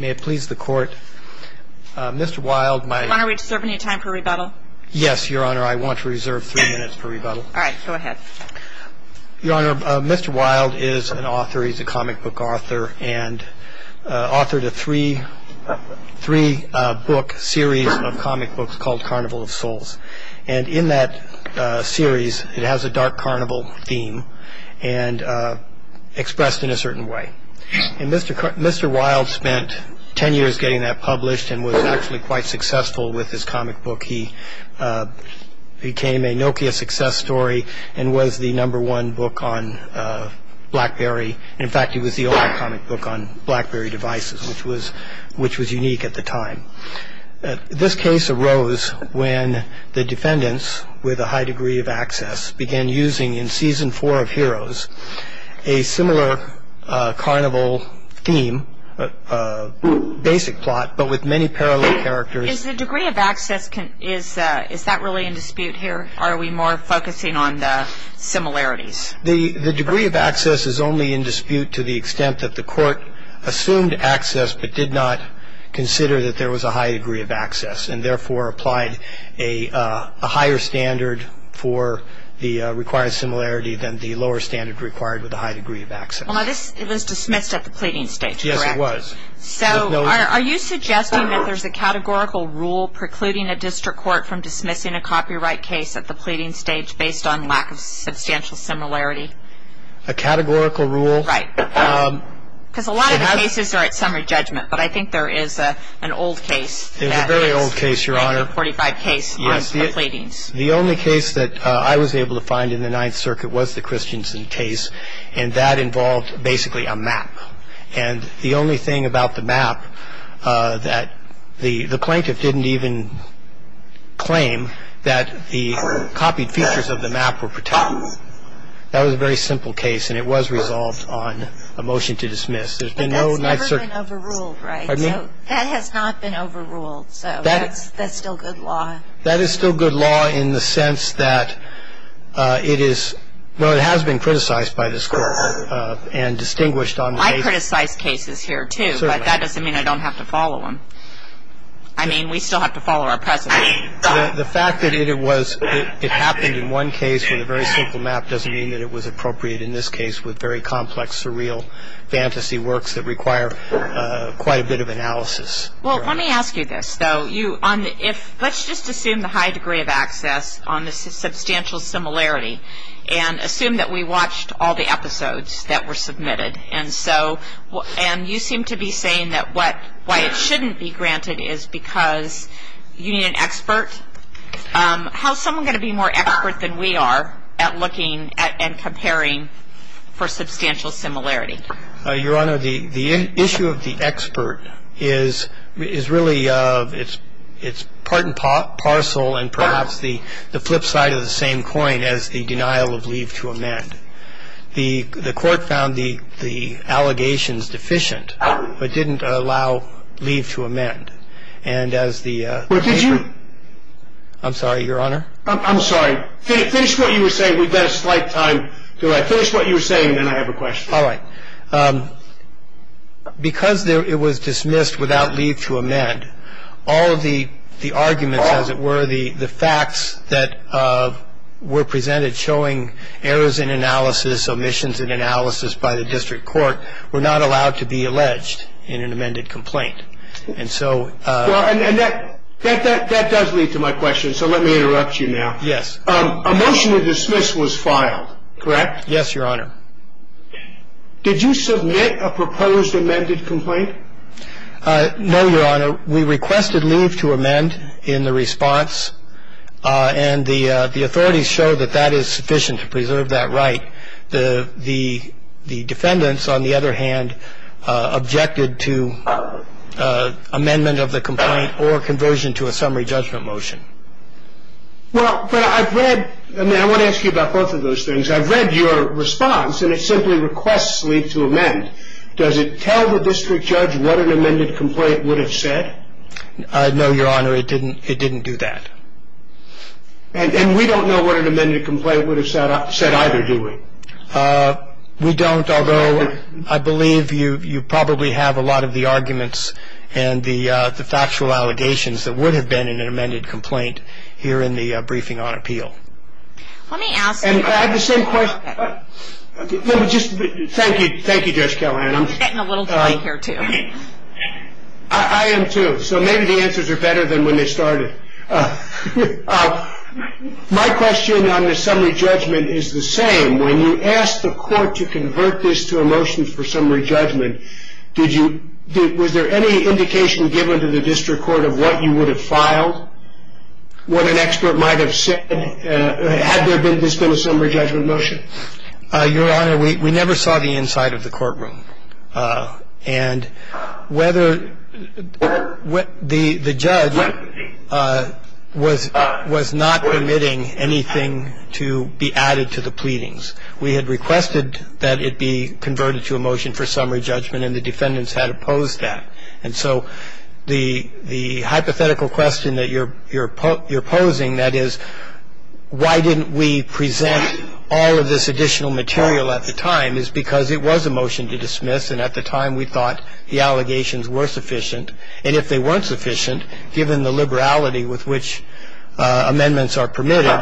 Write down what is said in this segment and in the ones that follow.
May it please the court, Mr. Wild, my... Your Honor, do we deserve any time for rebuttal? Yes, Your Honor, I want to reserve three minutes for rebuttal. All right, go ahead. Your Honor, Mr. Wild is an author, he's a comic book author, and authored a three book series of comic books called Carnival of Souls. And in that series, it has a dark carnival theme, and expressed in a certain way. And Mr. Wild spent ten years getting that published, and was actually quite successful with his comic book. He became a Nokia success story, and was the number one book on BlackBerry. In fact, he was the only comic book on BlackBerry devices, which was unique at the time. This case arose when the defendants, with a high degree of access, began using, in season four of Heroes, a similar carnival theme, basic plot, but with many parallel characters. Is the degree of access, is that really in dispute here? Or are we more focusing on the similarities? The degree of access is only in dispute to the extent that the court assumed access, but did not consider that there was a high degree of access, and therefore applied a higher standard for the required similarity than the lower standard required with a high degree of access. Now this was dismissed at the pleading stage, correct? Yes, it was. So are you suggesting that there's a categorical rule precluding a district court from dismissing a copyright case at the pleading stage, based on lack of substantial similarity? A categorical rule? Right. Because a lot of cases are at summary judgment, but I think there is an old case. There's a very old case, Your Honor. Thank you. Forty-five case, nine complatings. Yes. The only case that I was able to find in the Ninth Circuit was the Christensen case, and that involved basically a map. And the only thing about the map that the plaintiff didn't even claim that the copied features of the map were protected. That was a very simple case, and it was resolved on a motion to dismiss. But that has never been overruled, right? Pardon me? That has not been overruled, so that's still good law. That is still good law in the sense that it is, well, it has been criticized by this court and distinguished on the case. I criticize cases here, too, but that doesn't mean I don't have to follow them. I mean, we still have to follow our precedent. The fact that it was, it happened in one case with a very simple map doesn't mean that it was appropriate in this case with very complex, surreal fantasy works that require quite a bit of analysis. Well, let me ask you this, though. Let's just assume the high degree of access on the substantial similarity and assume that we watched all the episodes that were submitted. And you seem to be saying that why it shouldn't be granted is because you need an expert. How is someone going to be more expert than we are at looking at and comparing for substantial similarity? Your Honor, the issue of the expert is really, it's part and parcel and perhaps the flip side of the same coin as the denial of leave to amend. The court found the allegations deficient, but didn't allow leave to amend. Well, did you? I'm sorry, Your Honor? I'm sorry. Finish what you were saying. We've got a slight time delay. Finish what you were saying, and then I have a question. All right. Because it was dismissed without leave to amend, all of the arguments, as it were, the facts that were presented showing errors in analysis, omissions in analysis by the district court, were not allowed to be alleged in an amended complaint. And so that does lead to my question, so let me interrupt you now. Yes. A motion to dismiss was filed, correct? Yes, Your Honor. Did you submit a proposed amended complaint? No, Your Honor. We requested leave to amend in the response, and the authorities showed that that is sufficient to preserve that right. The defendants, on the other hand, objected to amendment of the complaint or conversion to a summary judgment motion. Well, but I've read, and I want to ask you about both of those things. I've read your response, and it simply requests leave to amend. Does it tell the district judge what an amended complaint would have said? No, Your Honor, it didn't do that. And we don't know what an amended complaint would have said either, do we? We don't, although I believe you probably have a lot of the arguments and the factual allegations that would have been in an amended complaint here in the briefing on appeal. Let me ask you. I have the same question. Thank you, Judge Callahan. I'm getting a little dry here, too. I am, too, so maybe the answers are better than when they started. My question on the summary judgment is the same. When you asked the court to convert this to a motion for summary judgment, was there any indication given to the district court of what you would have filed, what an expert might have said, had this been a summary judgment motion? Your Honor, we never saw the inside of the courtroom. And whether the judge was not permitting anything to be added to the pleadings. We had requested that it be converted to a motion for summary judgment, and the defendants had opposed that. And so the hypothetical question that you're posing, that is, why didn't we present all of this additional material at the time, is because it was a motion to dismiss, and at the time we thought the allegations were sufficient. And if they weren't sufficient, given the liberality with which amendments are permitted,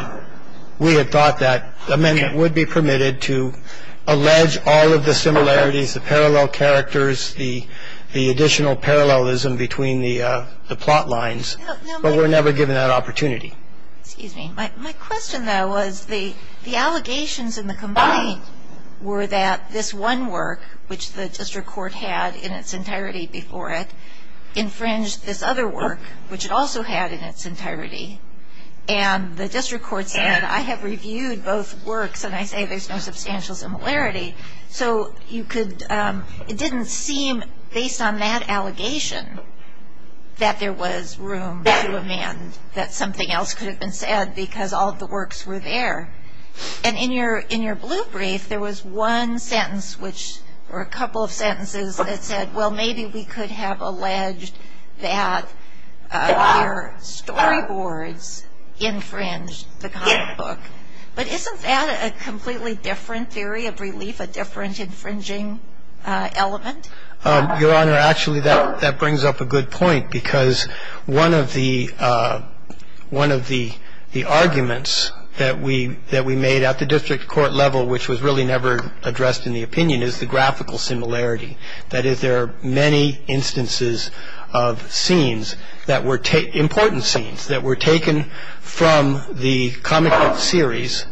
we had thought that amendment would be permitted to allege all of the similarities, the parallel characters, the additional parallelism between the plot lines. But we were never given that opportunity. Excuse me. My question, though, was the allegations in the complaint were that this one work, which the district court had in its entirety before it, infringed this other work, which it also had in its entirety. And the district court said, I have reviewed both works, and I say there's no substantial similarity. So it didn't seem, based on that allegation, that there was room to amend, that something else could have been said because all of the works were there. And in your blue brief, there was one sentence or a couple of sentences that said, well, maybe we could have alleged that your storyboards infringed the comic book. But isn't that a completely different theory of relief, a different infringing element? Your Honor, actually, that brings up a good point, because one of the arguments that we made at the district court level, which was really never addressed in the opinion, is the graphical similarity. That is, there are many instances of scenes that were taken, important scenes, that were taken from the comic book series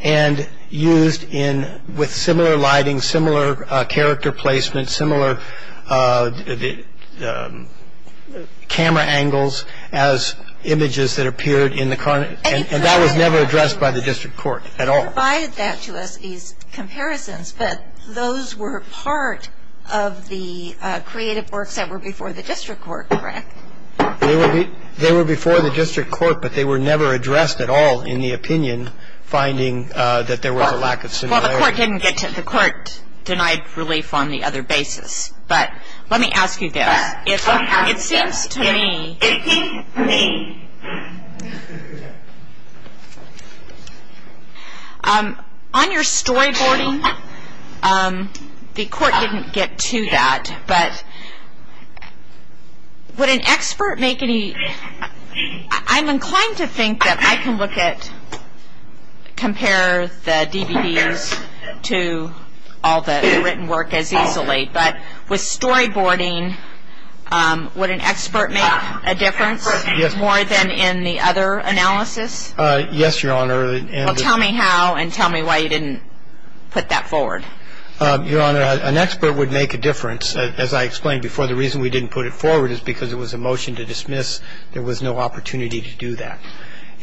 and used with similar lighting, similar character placement, similar camera angles as images that appeared in the comic. And that was never addressed by the district court at all. And you provided that to us, these comparisons, but those were part of the creative works that were before the district court, correct? They were before the district court, but they were never addressed at all in the opinion, finding that there was a lack of similarity. Well, the court didn't get to it. The court denied relief on the other basis. But let me ask you this. It seems to me, on your storyboarding, the court didn't get to that. But would an expert make any ‑‑ I'm inclined to think that I can look at, compare the DVDs to all the written work as easily, but with storyboarding, would an expert make a difference more than in the other analysis? Yes, Your Honor. Well, tell me how and tell me why you didn't put that forward. Your Honor, an expert would make a difference. As I explained before, the reason we didn't put it forward is because it was a motion to dismiss. There was no opportunity to do that.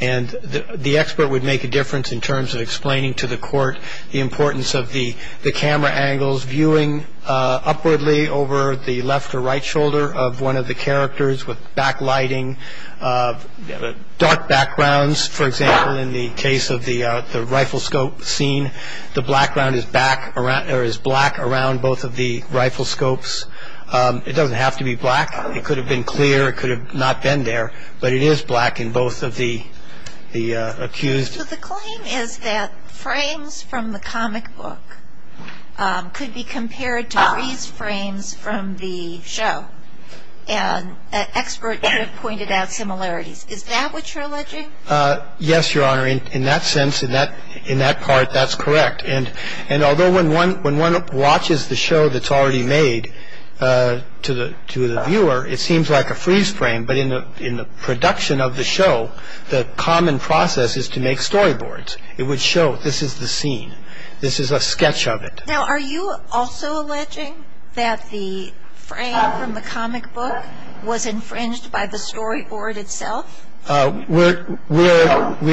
And the expert would make a difference in terms of explaining to the court the importance of the camera angles, viewing upwardly over the left or right shoulder of one of the characters with back lighting, dark backgrounds. For example, in the case of the riflescope scene, the background is black around both of the riflescopes. It doesn't have to be black. It could have been clear. It could have not been there. But it is black in both of the accused. So the claim is that frames from the comic book could be compared to these frames from the show, and an expert could have pointed out similarities. Is that what you're alleging? Yes, Your Honor. In that sense, in that part, that's correct. And although when one watches the show that's already made to the viewer, it seems like a freeze frame. But in the production of the show, the common process is to make storyboards. It would show this is the scene. This is a sketch of it. Now, are you also alleging that the frame from the comic book was infringed by the storyboard itself? We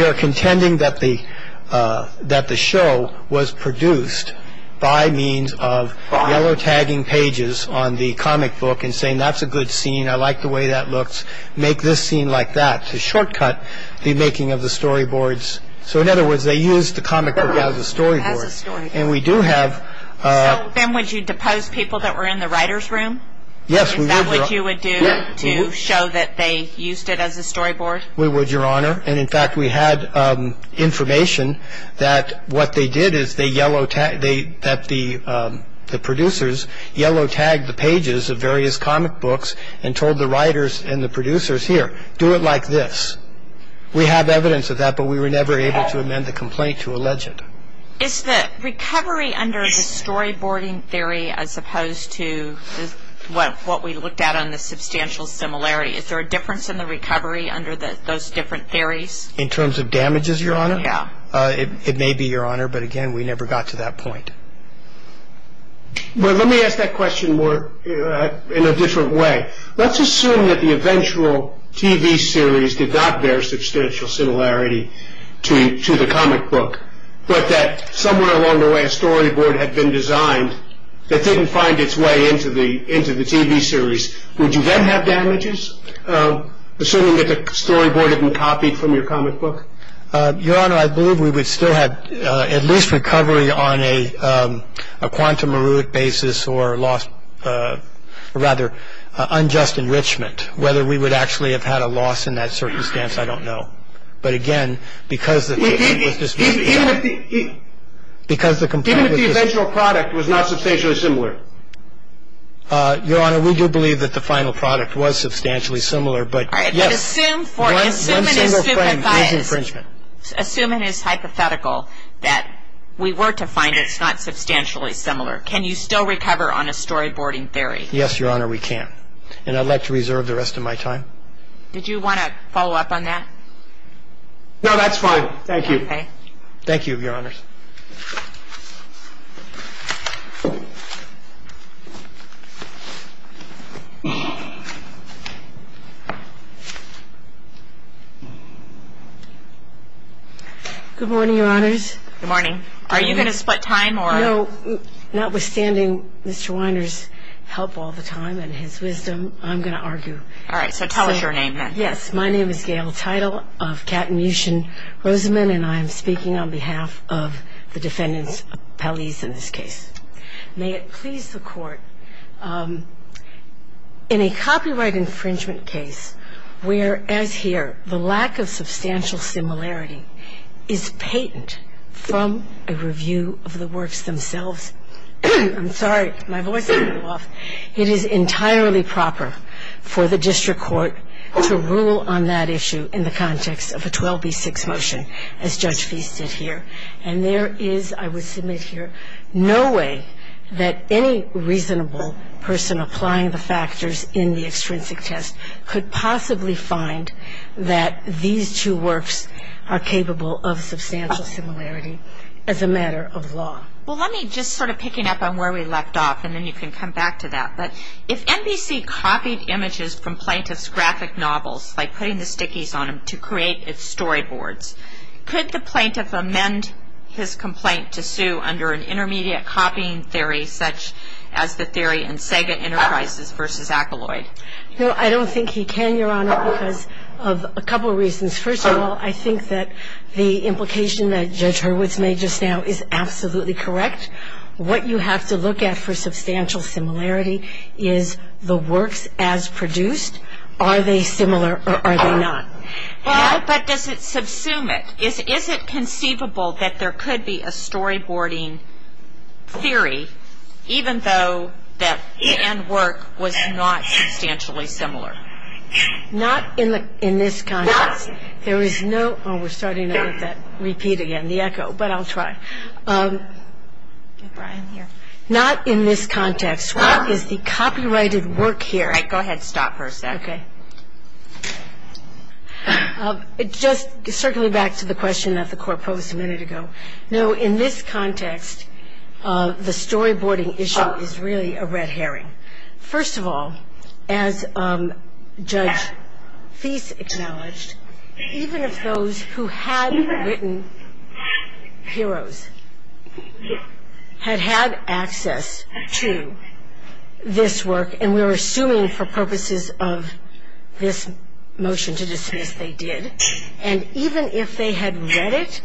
are contending that the show was produced by means of yellow-tagging pages on the comic book and saying that's a good scene, I like the way that looks, make this scene like that, to shortcut the making of the storyboards. So in other words, they used the comic book as a storyboard. As a storyboard. And we do have... So then would you depose people that were in the writer's room? Yes, we would, Your Honor. Is that what you would do to show that they used it as a storyboard? We would, Your Honor. And in fact, we had information that what they did is they yellow-tagged, that the producers yellow-tagged the pages of various comic books and told the writers and the producers, here, do it like this. We have evidence of that, but we were never able to amend the complaint to allege it. Is the recovery under the storyboarding theory as opposed to what we looked at on the substantial similarity, is there a difference in the recovery under those different theories? In terms of damages, Your Honor? Yeah. It may be, Your Honor, but again, we never got to that point. Well, let me ask that question more in a different way. Let's assume that the eventual TV series did not bear substantial similarity to the comic book, but that somewhere along the way a storyboard had been designed that didn't find its way into the TV series. Would you then have damages, assuming that the storyboard had been copied from your comic book? Your Honor, I believe we would still have at least recovery on a quantum-Merut basis or rather unjust enrichment. Whether we would actually have had a loss in that circumstance, I don't know. But again, because the complaint was disputed. Even if the eventual product was not substantially similar? Your Honor, we do believe that the final product was substantially similar, but yes. All right. But assume for one single frame there's infringement. Assuming it's hypothetical that we were to find it's not substantially similar, can you still recover on a storyboarding theory? Yes, Your Honor, we can. And I'd like to reserve the rest of my time. Did you want to follow up on that? No, that's fine. Thank you. Thank you, Your Honors. Good morning, Your Honors. Good morning. Are you going to split time or? No, notwithstanding Mr. Weiner's help all the time and his wisdom, I'm going to argue. All right. So tell us your name then. Yes. My name is Gail Teitel of Katten-Mueschen-Roseman, and I am speaking on behalf of the defendants' appellees in this case. May it please the Court, in a copyright infringement case, whereas here the lack of substantial similarity is patent from a review of the works themselves. I'm sorry. My voice is a little off. It is entirely proper for the district court to rule on that issue in the context of a 12B6 motion, as Judge Feist did here. And there is, I would submit here, no way that any reasonable person applying the factors in the extrinsic test could possibly find that these two works are capable of substantial similarity as a matter of law. Well, let me just sort of picking up on where we left off, and then you can come back to that. But if NBC copied images from plaintiff's graphic novels, like putting the stickies on them to create its storyboards, could the plaintiff amend his complaint to sue under an intermediate copying theory such as the theory in Sega Enterprises v. Acolloid? No, I don't think he can, Your Honor, because of a couple of reasons. First of all, I think that the implication that Judge Hurwitz made just now is absolutely correct. What you have to look at for substantial similarity is the works as produced. Are they similar or are they not? Well, but does it subsume it? Is it conceivable that there could be a storyboarding theory, even though that the end work was not substantially similar? Not in this context. There is no – oh, we're starting to repeat again the echo, but I'll try. Not in this context. What is the copyrighted work here? All right, go ahead. Stop for a sec. Okay. Just circling back to the question that the Court posed a minute ago, no, in this context, the storyboarding issue is really a red herring. First of all, as Judge Feist acknowledged, even if those who had written Heroes had had access to this work, and we're assuming for purposes of this motion to dismiss they did, and even if they had read it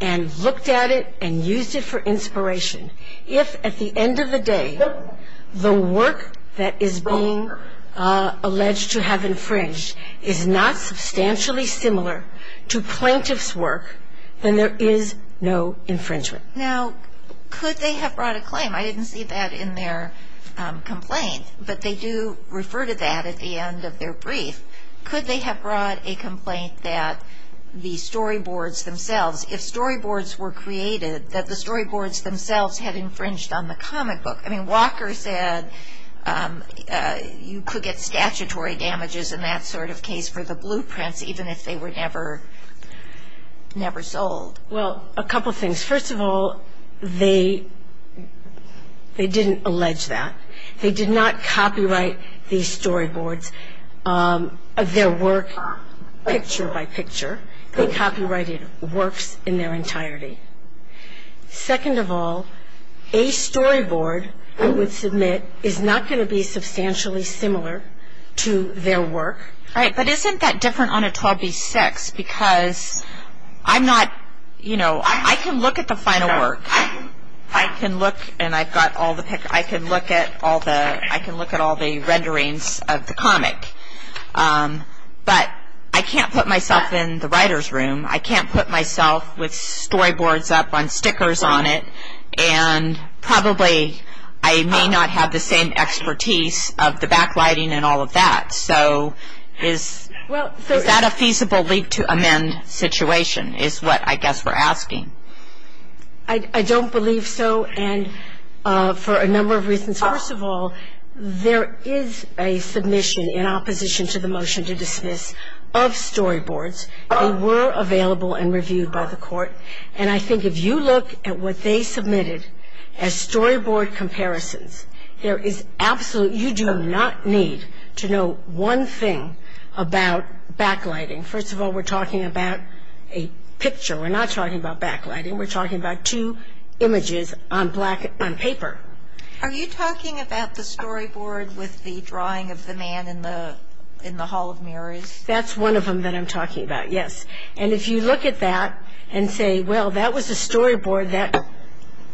and looked at it and used it for inspiration, if at the end of the day the work that is being alleged to have infringed is not substantially similar to plaintiff's work, then there is no infringement. Now, could they have brought a claim? I didn't see that in their complaint, but they do refer to that at the end of their brief. Could they have brought a complaint that the storyboards themselves, if storyboards were created, that the storyboards themselves had infringed on the comic book? I mean, Walker said you could get statutory damages in that sort of case for the blueprints, even if they were never sold. Well, a couple things. First of all, they didn't allege that. They did not copyright these storyboards, their work, picture by picture. They copyrighted works in their entirety. Second of all, a storyboard, I would submit, is not going to be substantially similar to their work. Right, but isn't that different on a 12B6? Because I'm not, you know, I can look at the final work. I can look, and I've got all the pictures. I can look at all the renderings of the comic. But I can't put myself in the writer's room. I can't put myself with storyboards up on stickers on it, and probably I may not have the same expertise of the backlighting and all of that. So is that a feasible leap to amend situation is what I guess we're asking. I don't believe so, and for a number of reasons. First of all, there is a submission in opposition to the motion to dismiss of storyboards. They were available and reviewed by the court, and I think if you look at what they submitted as storyboard comparisons, you do not need to know one thing about backlighting. First of all, we're talking about a picture. We're not talking about backlighting. We're talking about two images on paper. Are you talking about the storyboard with the drawing of the man in the Hall of Mirrors? That's one of them that I'm talking about, yes. And if you look at that and say, well, that was a storyboard that,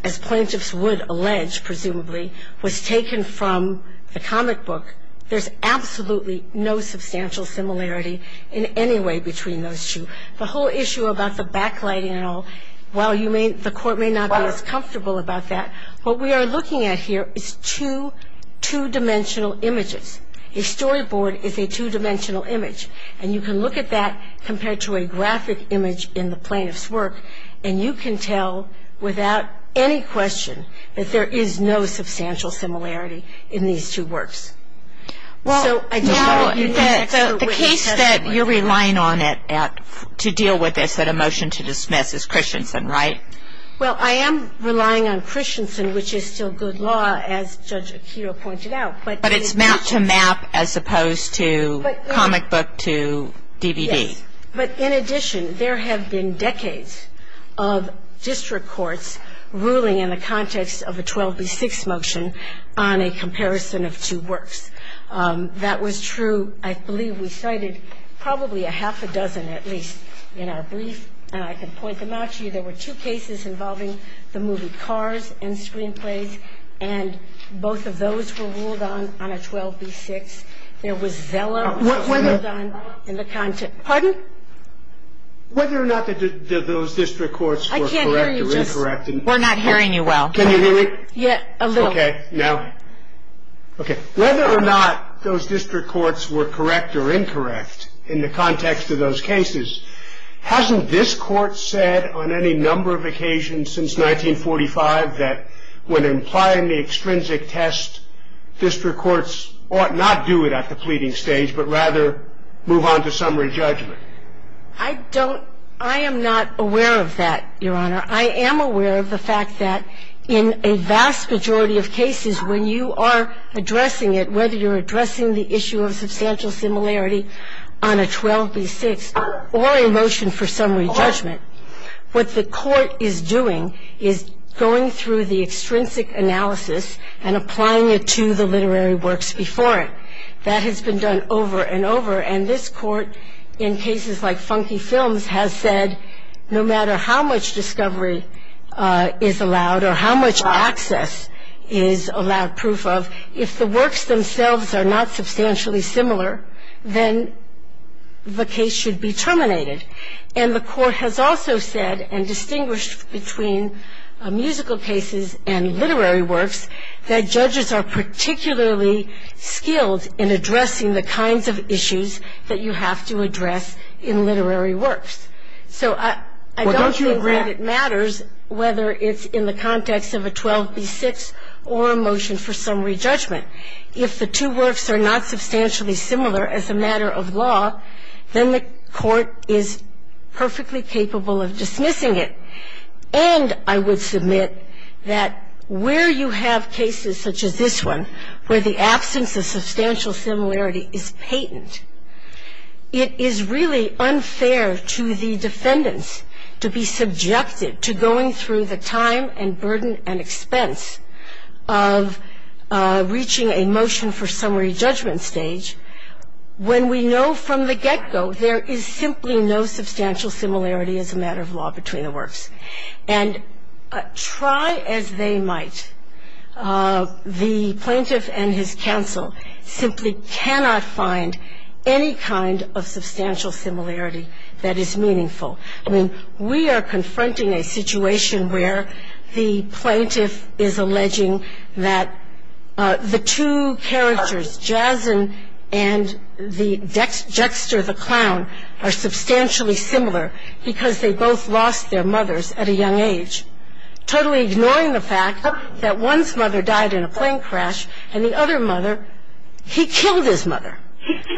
as plaintiffs would allege, presumably, was taken from the comic book, there's absolutely no substantial similarity in any way between those two. The whole issue about the backlighting and all, while the court may not be as comfortable about that, what we are looking at here is two two-dimensional images. A storyboard is a two-dimensional image, and you can look at that compared to a graphic image in the plaintiff's work, and you can tell without any question that there is no substantial similarity in these two works. So I just want to let you know that the case that you're relying on to deal with this, that a motion to dismiss, is Christensen, right? Well, I am relying on Christensen, which is still good law, as Judge Akito pointed out. But it's map to map as opposed to comic book to DVD. Yes. But in addition, there have been decades of district courts ruling in the context of a 12b6 motion on a comparison of two works. That was true, I believe we cited probably a half a dozen at least in our brief, and I can point them out to you. There were two cases involving the movie Cars and screenplays, and both of those were ruled on on a 12b6. There was Zella. Pardon? Whether or not those district courts were correct or incorrect. I can't hear you. We're not hearing you well. Can you hear me? Yes, a little. Okay. Now, okay. Whether or not those district courts were correct or incorrect in the context of those cases, hasn't this Court said on any number of occasions since 1945 that when implying the extrinsic test, district courts ought not do it at the pleading stage, but rather move on to summary judgment? I don't – I am not aware of that, Your Honor. I am aware of the fact that in a vast majority of cases when you are addressing it, whether you're addressing the issue of substantial similarity on a 12b6 or a motion for summary judgment, what the Court is doing is going through the extrinsic analysis and applying it to the literary works before it. That has been done over and over, and this Court in cases like Funky Films has said no matter how much discovery is allowed or how much access is allowed proof of, if the works themselves are not substantially similar, then the case should be terminated. And the Court has also said and distinguished between musical cases and literary works that judges are particularly skilled in addressing the kinds of issues that you have to address in literary works. So I don't think that it matters whether it's in the context of a 12b6 or a motion for summary judgment. If the two works are not substantially similar as a matter of law, then the Court is perfectly capable of dismissing it. And I would submit that where you have cases such as this one where the absence of substantial similarity is patent, it is really unfair to the defendants to be subjected to going through the time and burden and expense of reaching a motion for summary judgment stage when we know from the get-go there is simply no substantial similarity as a matter of law between the works. And try as they might, the plaintiff and his counsel simply cannot find any kind of substantial similarity that is meaningful. I mean, we are confronting a situation where the plaintiff is alleging that the two characters, Jason and the Dexter the Clown, are substantially similar because they both lost their mothers at a young age, totally ignoring the fact that one's mother died in a plane crash and the other mother, he killed his mother.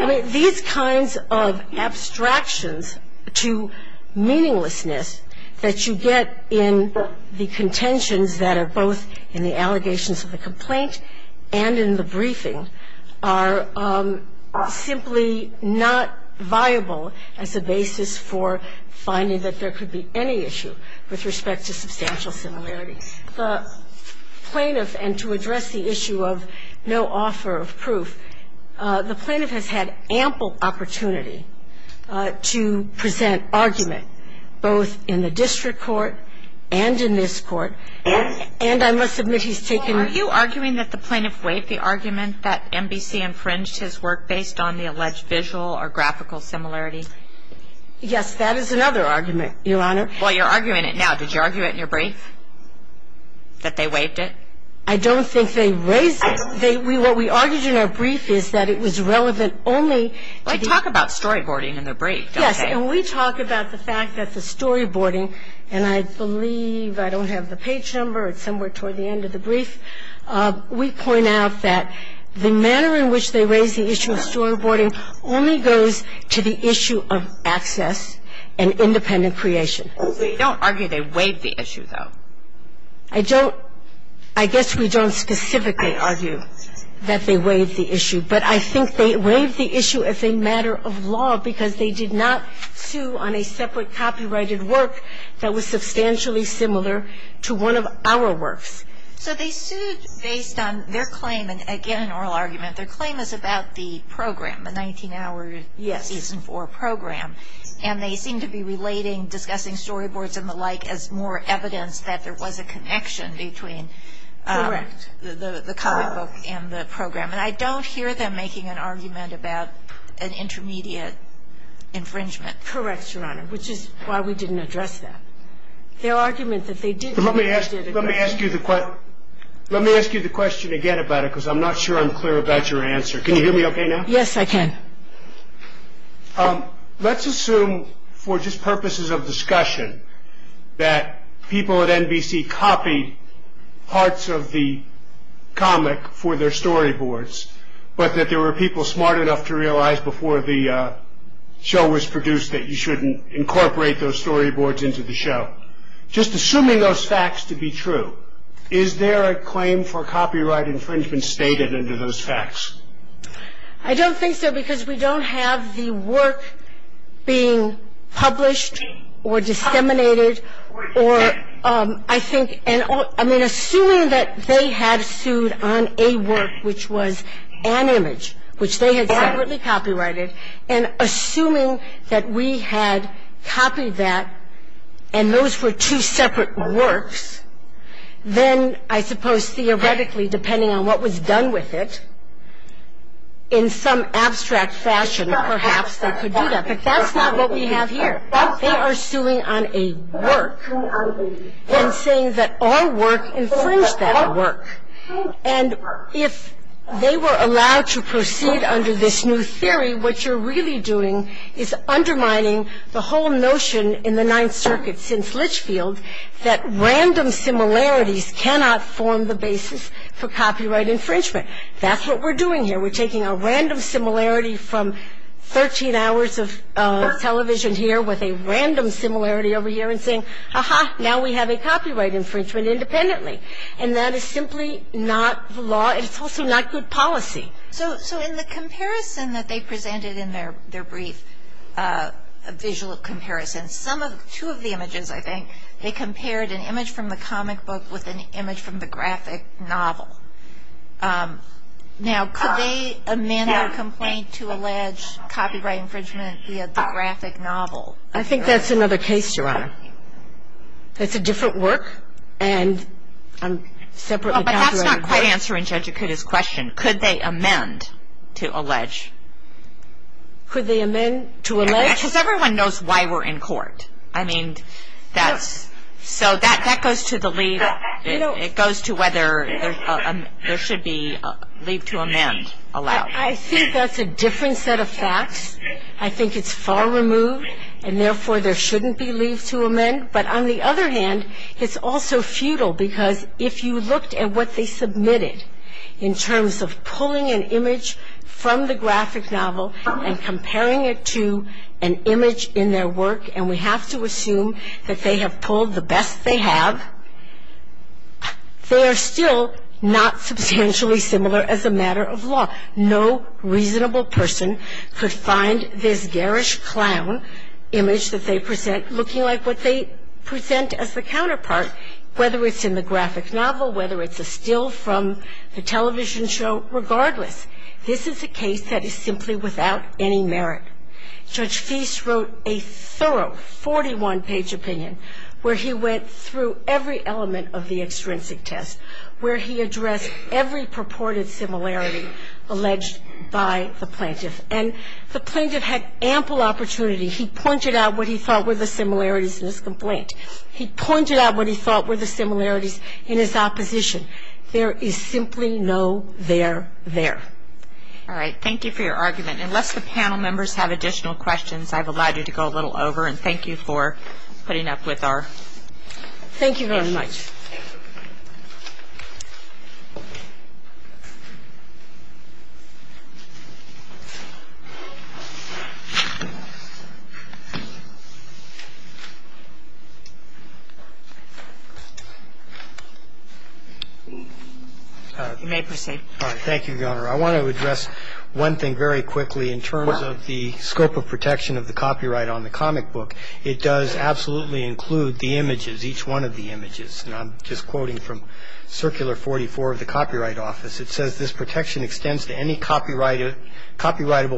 I mean, these kinds of abstractions to meaninglessness that you get in the contentions that are both in the allegations of the complaint and in the briefing are simply not viable as a basis for finding that there could be any issue with respect to substantial similarities. The plaintiff, and to address the issue of no offer of proof, the plaintiff has had ample opportunity to present argument both in the district court and in this Court. And I must admit he's taken the ---- Are you arguing that the plaintiff waived the argument that NBC infringed his work based on the alleged visual or graphical similarity? Yes. That is another argument, Your Honor. Well, you're arguing it now. Did you argue it in your brief, that they waived it? I don't think they raised it. What we argued in our brief is that it was relevant only to the ---- Well, they talk about storyboarding in their brief, don't they? Yes. And we talk about the fact that the storyboarding, and I believe I don't have the page number. It's somewhere toward the end of the brief. We point out that the manner in which they raise the issue of storyboarding only goes to the issue of access and independent creation. So you don't argue they waived the issue, though? I don't. I guess we don't specifically argue that they waived the issue. But I think they waived the issue as a matter of law because they did not sue on a separate copyrighted work that was substantially similar to one of our works. So they sued based on their claim, and again, an oral argument. Their claim is about the program, the 19-hour Season 4 program. Yes. And they seem to be relating discussing storyboards and the like as more evidence that there was a connection between the comic book and the program. And I don't hear them making an argument about an intermediate infringement. Correct, Your Honor, which is why we didn't address that. Their argument that they did do it. Let me ask you the question again about it because I'm not sure I'm clear about your answer. Can you hear me okay now? Yes, I can. Let's assume for just purposes of discussion that people at NBC copied parts of the comic for their storyboards, but that there were people smart enough to realize before the show was produced that you shouldn't incorporate those storyboards into the show. Just assuming those facts to be true, is there a claim for copyright infringement stated into those facts? I don't think so because we don't have the work being published or disseminated or, I think, I mean, assuming that they had sued on a work which was an image, which they had separately copyrighted, and assuming that we had copied that and those were two separate works, then I suppose theoretically, depending on what was done with it, in some abstract fashion, perhaps they could do that. But that's not what we have here. They are suing on a work and saying that our work infringed that work. And if they were allowed to proceed under this new theory, what you're really doing is undermining the whole notion in the Ninth Circuit since Litchfield that random similarities cannot form the basis for copyright infringement. That's what we're doing here. We're taking a random similarity from 13 hours of television here with a random similarity over here and saying, aha, now we have a copyright infringement independently. And that is simply not the law and it's also not good policy. So in the comparison that they presented in their brief visual comparison, two of the images, I think, they compared an image from the comic book with an image from the graphic novel. Now, could they amend their complaint to allege copyright infringement via the graphic novel? I think that's another case, Your Honor. That's a different work and separately copyrighted. Well, but that's not quite answering Judge Akuta's question. Could they amend to allege? Could they amend to allege? Because everyone knows why we're in court. I mean, that's so that goes to the leave. It goes to whether there should be leave to amend allowed. I think that's a different set of facts. I think it's far removed and, therefore, there shouldn't be leave to amend. But on the other hand, it's also futile because if you looked at what they submitted in terms of pulling an image from the graphic novel and comparing it to an image in their work, and we have to assume that they have pulled the best they have, they are still not substantially similar as a matter of law. No reasonable person could find this garish clown image that they present looking like what they present as the counterpart, whether it's in the graphic novel, whether it's a still from the television show, regardless. This is a case that is simply without any merit. Judge Feist wrote a thorough 41-page opinion where he went through every element of the extrinsic test, where he addressed every purported similarity alleged by the plaintiff. And the plaintiff had ample opportunity. He pointed out what he thought were the similarities in his complaint. He pointed out what he thought were the similarities in his opposition. There is simply no there there. All right. Thank you for your argument. Unless the panel members have additional questions, I've allowed you to go a little over, and thank you for putting up with our... Thank you very much. You may proceed. Thank you, Your Honor. I want to address one thing very quickly in terms of the scope of protection of the copyright on the comic book. It does absolutely include the images, each one of the images. And I'm just quoting from Circular 44 of the Copyright Office. It says this protection extends to any copyrightable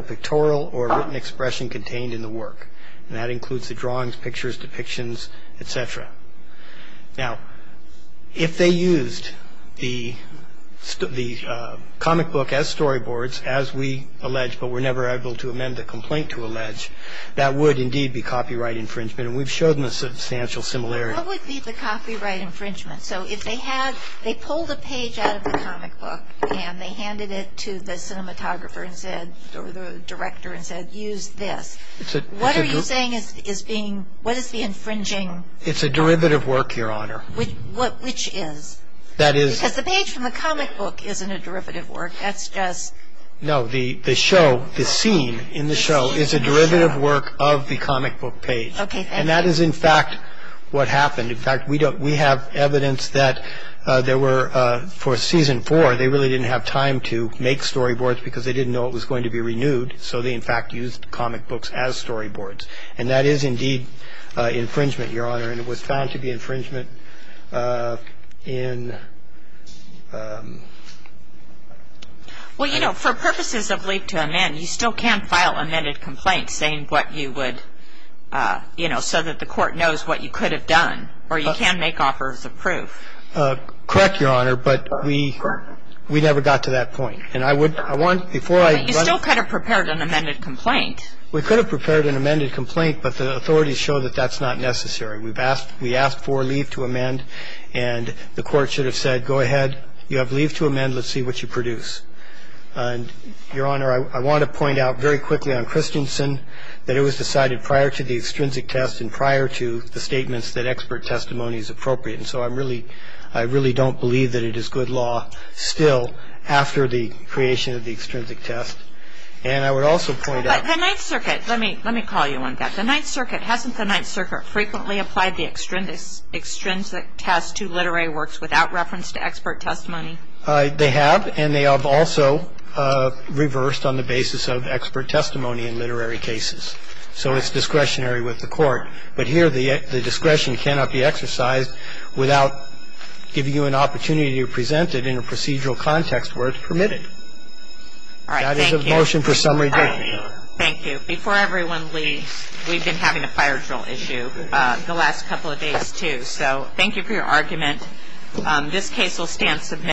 pictorial or written expression contained in the work. And that includes the drawings, pictures, depictions, et cetera. Now, if they used the comic book as storyboards, as we allege, but were never able to amend the complaint to allege, that would indeed be copyright infringement. And we've shown them a substantial similarity. What would be the copyright infringement? So if they had, they pulled a page out of the comic book, and they handed it to the cinematographer and said, or the director and said, use this. What are you saying is being, what is the infringing? It's a derivative work, Your Honor. Which is? That is. Because the page from the comic book isn't a derivative work. That's just. No, the show, the scene in the show is a derivative work of the comic book page. Okay, thank you. And that is, in fact, what happened. In fact, we have evidence that there were, for season four, they really didn't have time to make storyboards because they didn't know it was going to be renewed. So they, in fact, used comic books as storyboards. And that is indeed infringement, Your Honor. And it was found to be infringement in. Well, you know, for purposes of leap to amend, you still can file amended complaints saying what you would, you know, so that the court knows what you could have done. Or you can make offers of proof. Correct, Your Honor, but we never got to that point. And I would, I want, before I. You still could have prepared an amended complaint. We could have prepared an amended complaint, but the authorities show that that's not necessary. We've asked, we asked for a leap to amend. And the court should have said, go ahead. You have a leap to amend. Let's see what you produce. And, Your Honor, I want to point out very quickly on Christensen that it was decided prior to the extrinsic test and prior to the statements that expert testimony is appropriate. And so I'm really, I really don't believe that it is good law still after the creation of the extrinsic test. And I would also point out. But the Ninth Circuit, let me, let me call you on that. The Ninth Circuit, hasn't the Ninth Circuit frequently applied the extrinsic test to literary works without reference to expert testimony? They have, and they have also reversed on the basis of expert testimony in literary cases. So it's discretionary with the court. But here the discretion cannot be exercised without giving you an opportunity to present it in a procedural context where it's permitted. All right, thank you. That is the motion for summary. Thank you. Before everyone leaves, we've been having a fire drill issue the last couple of days, too. So thank you for your argument. This case will stand submitted.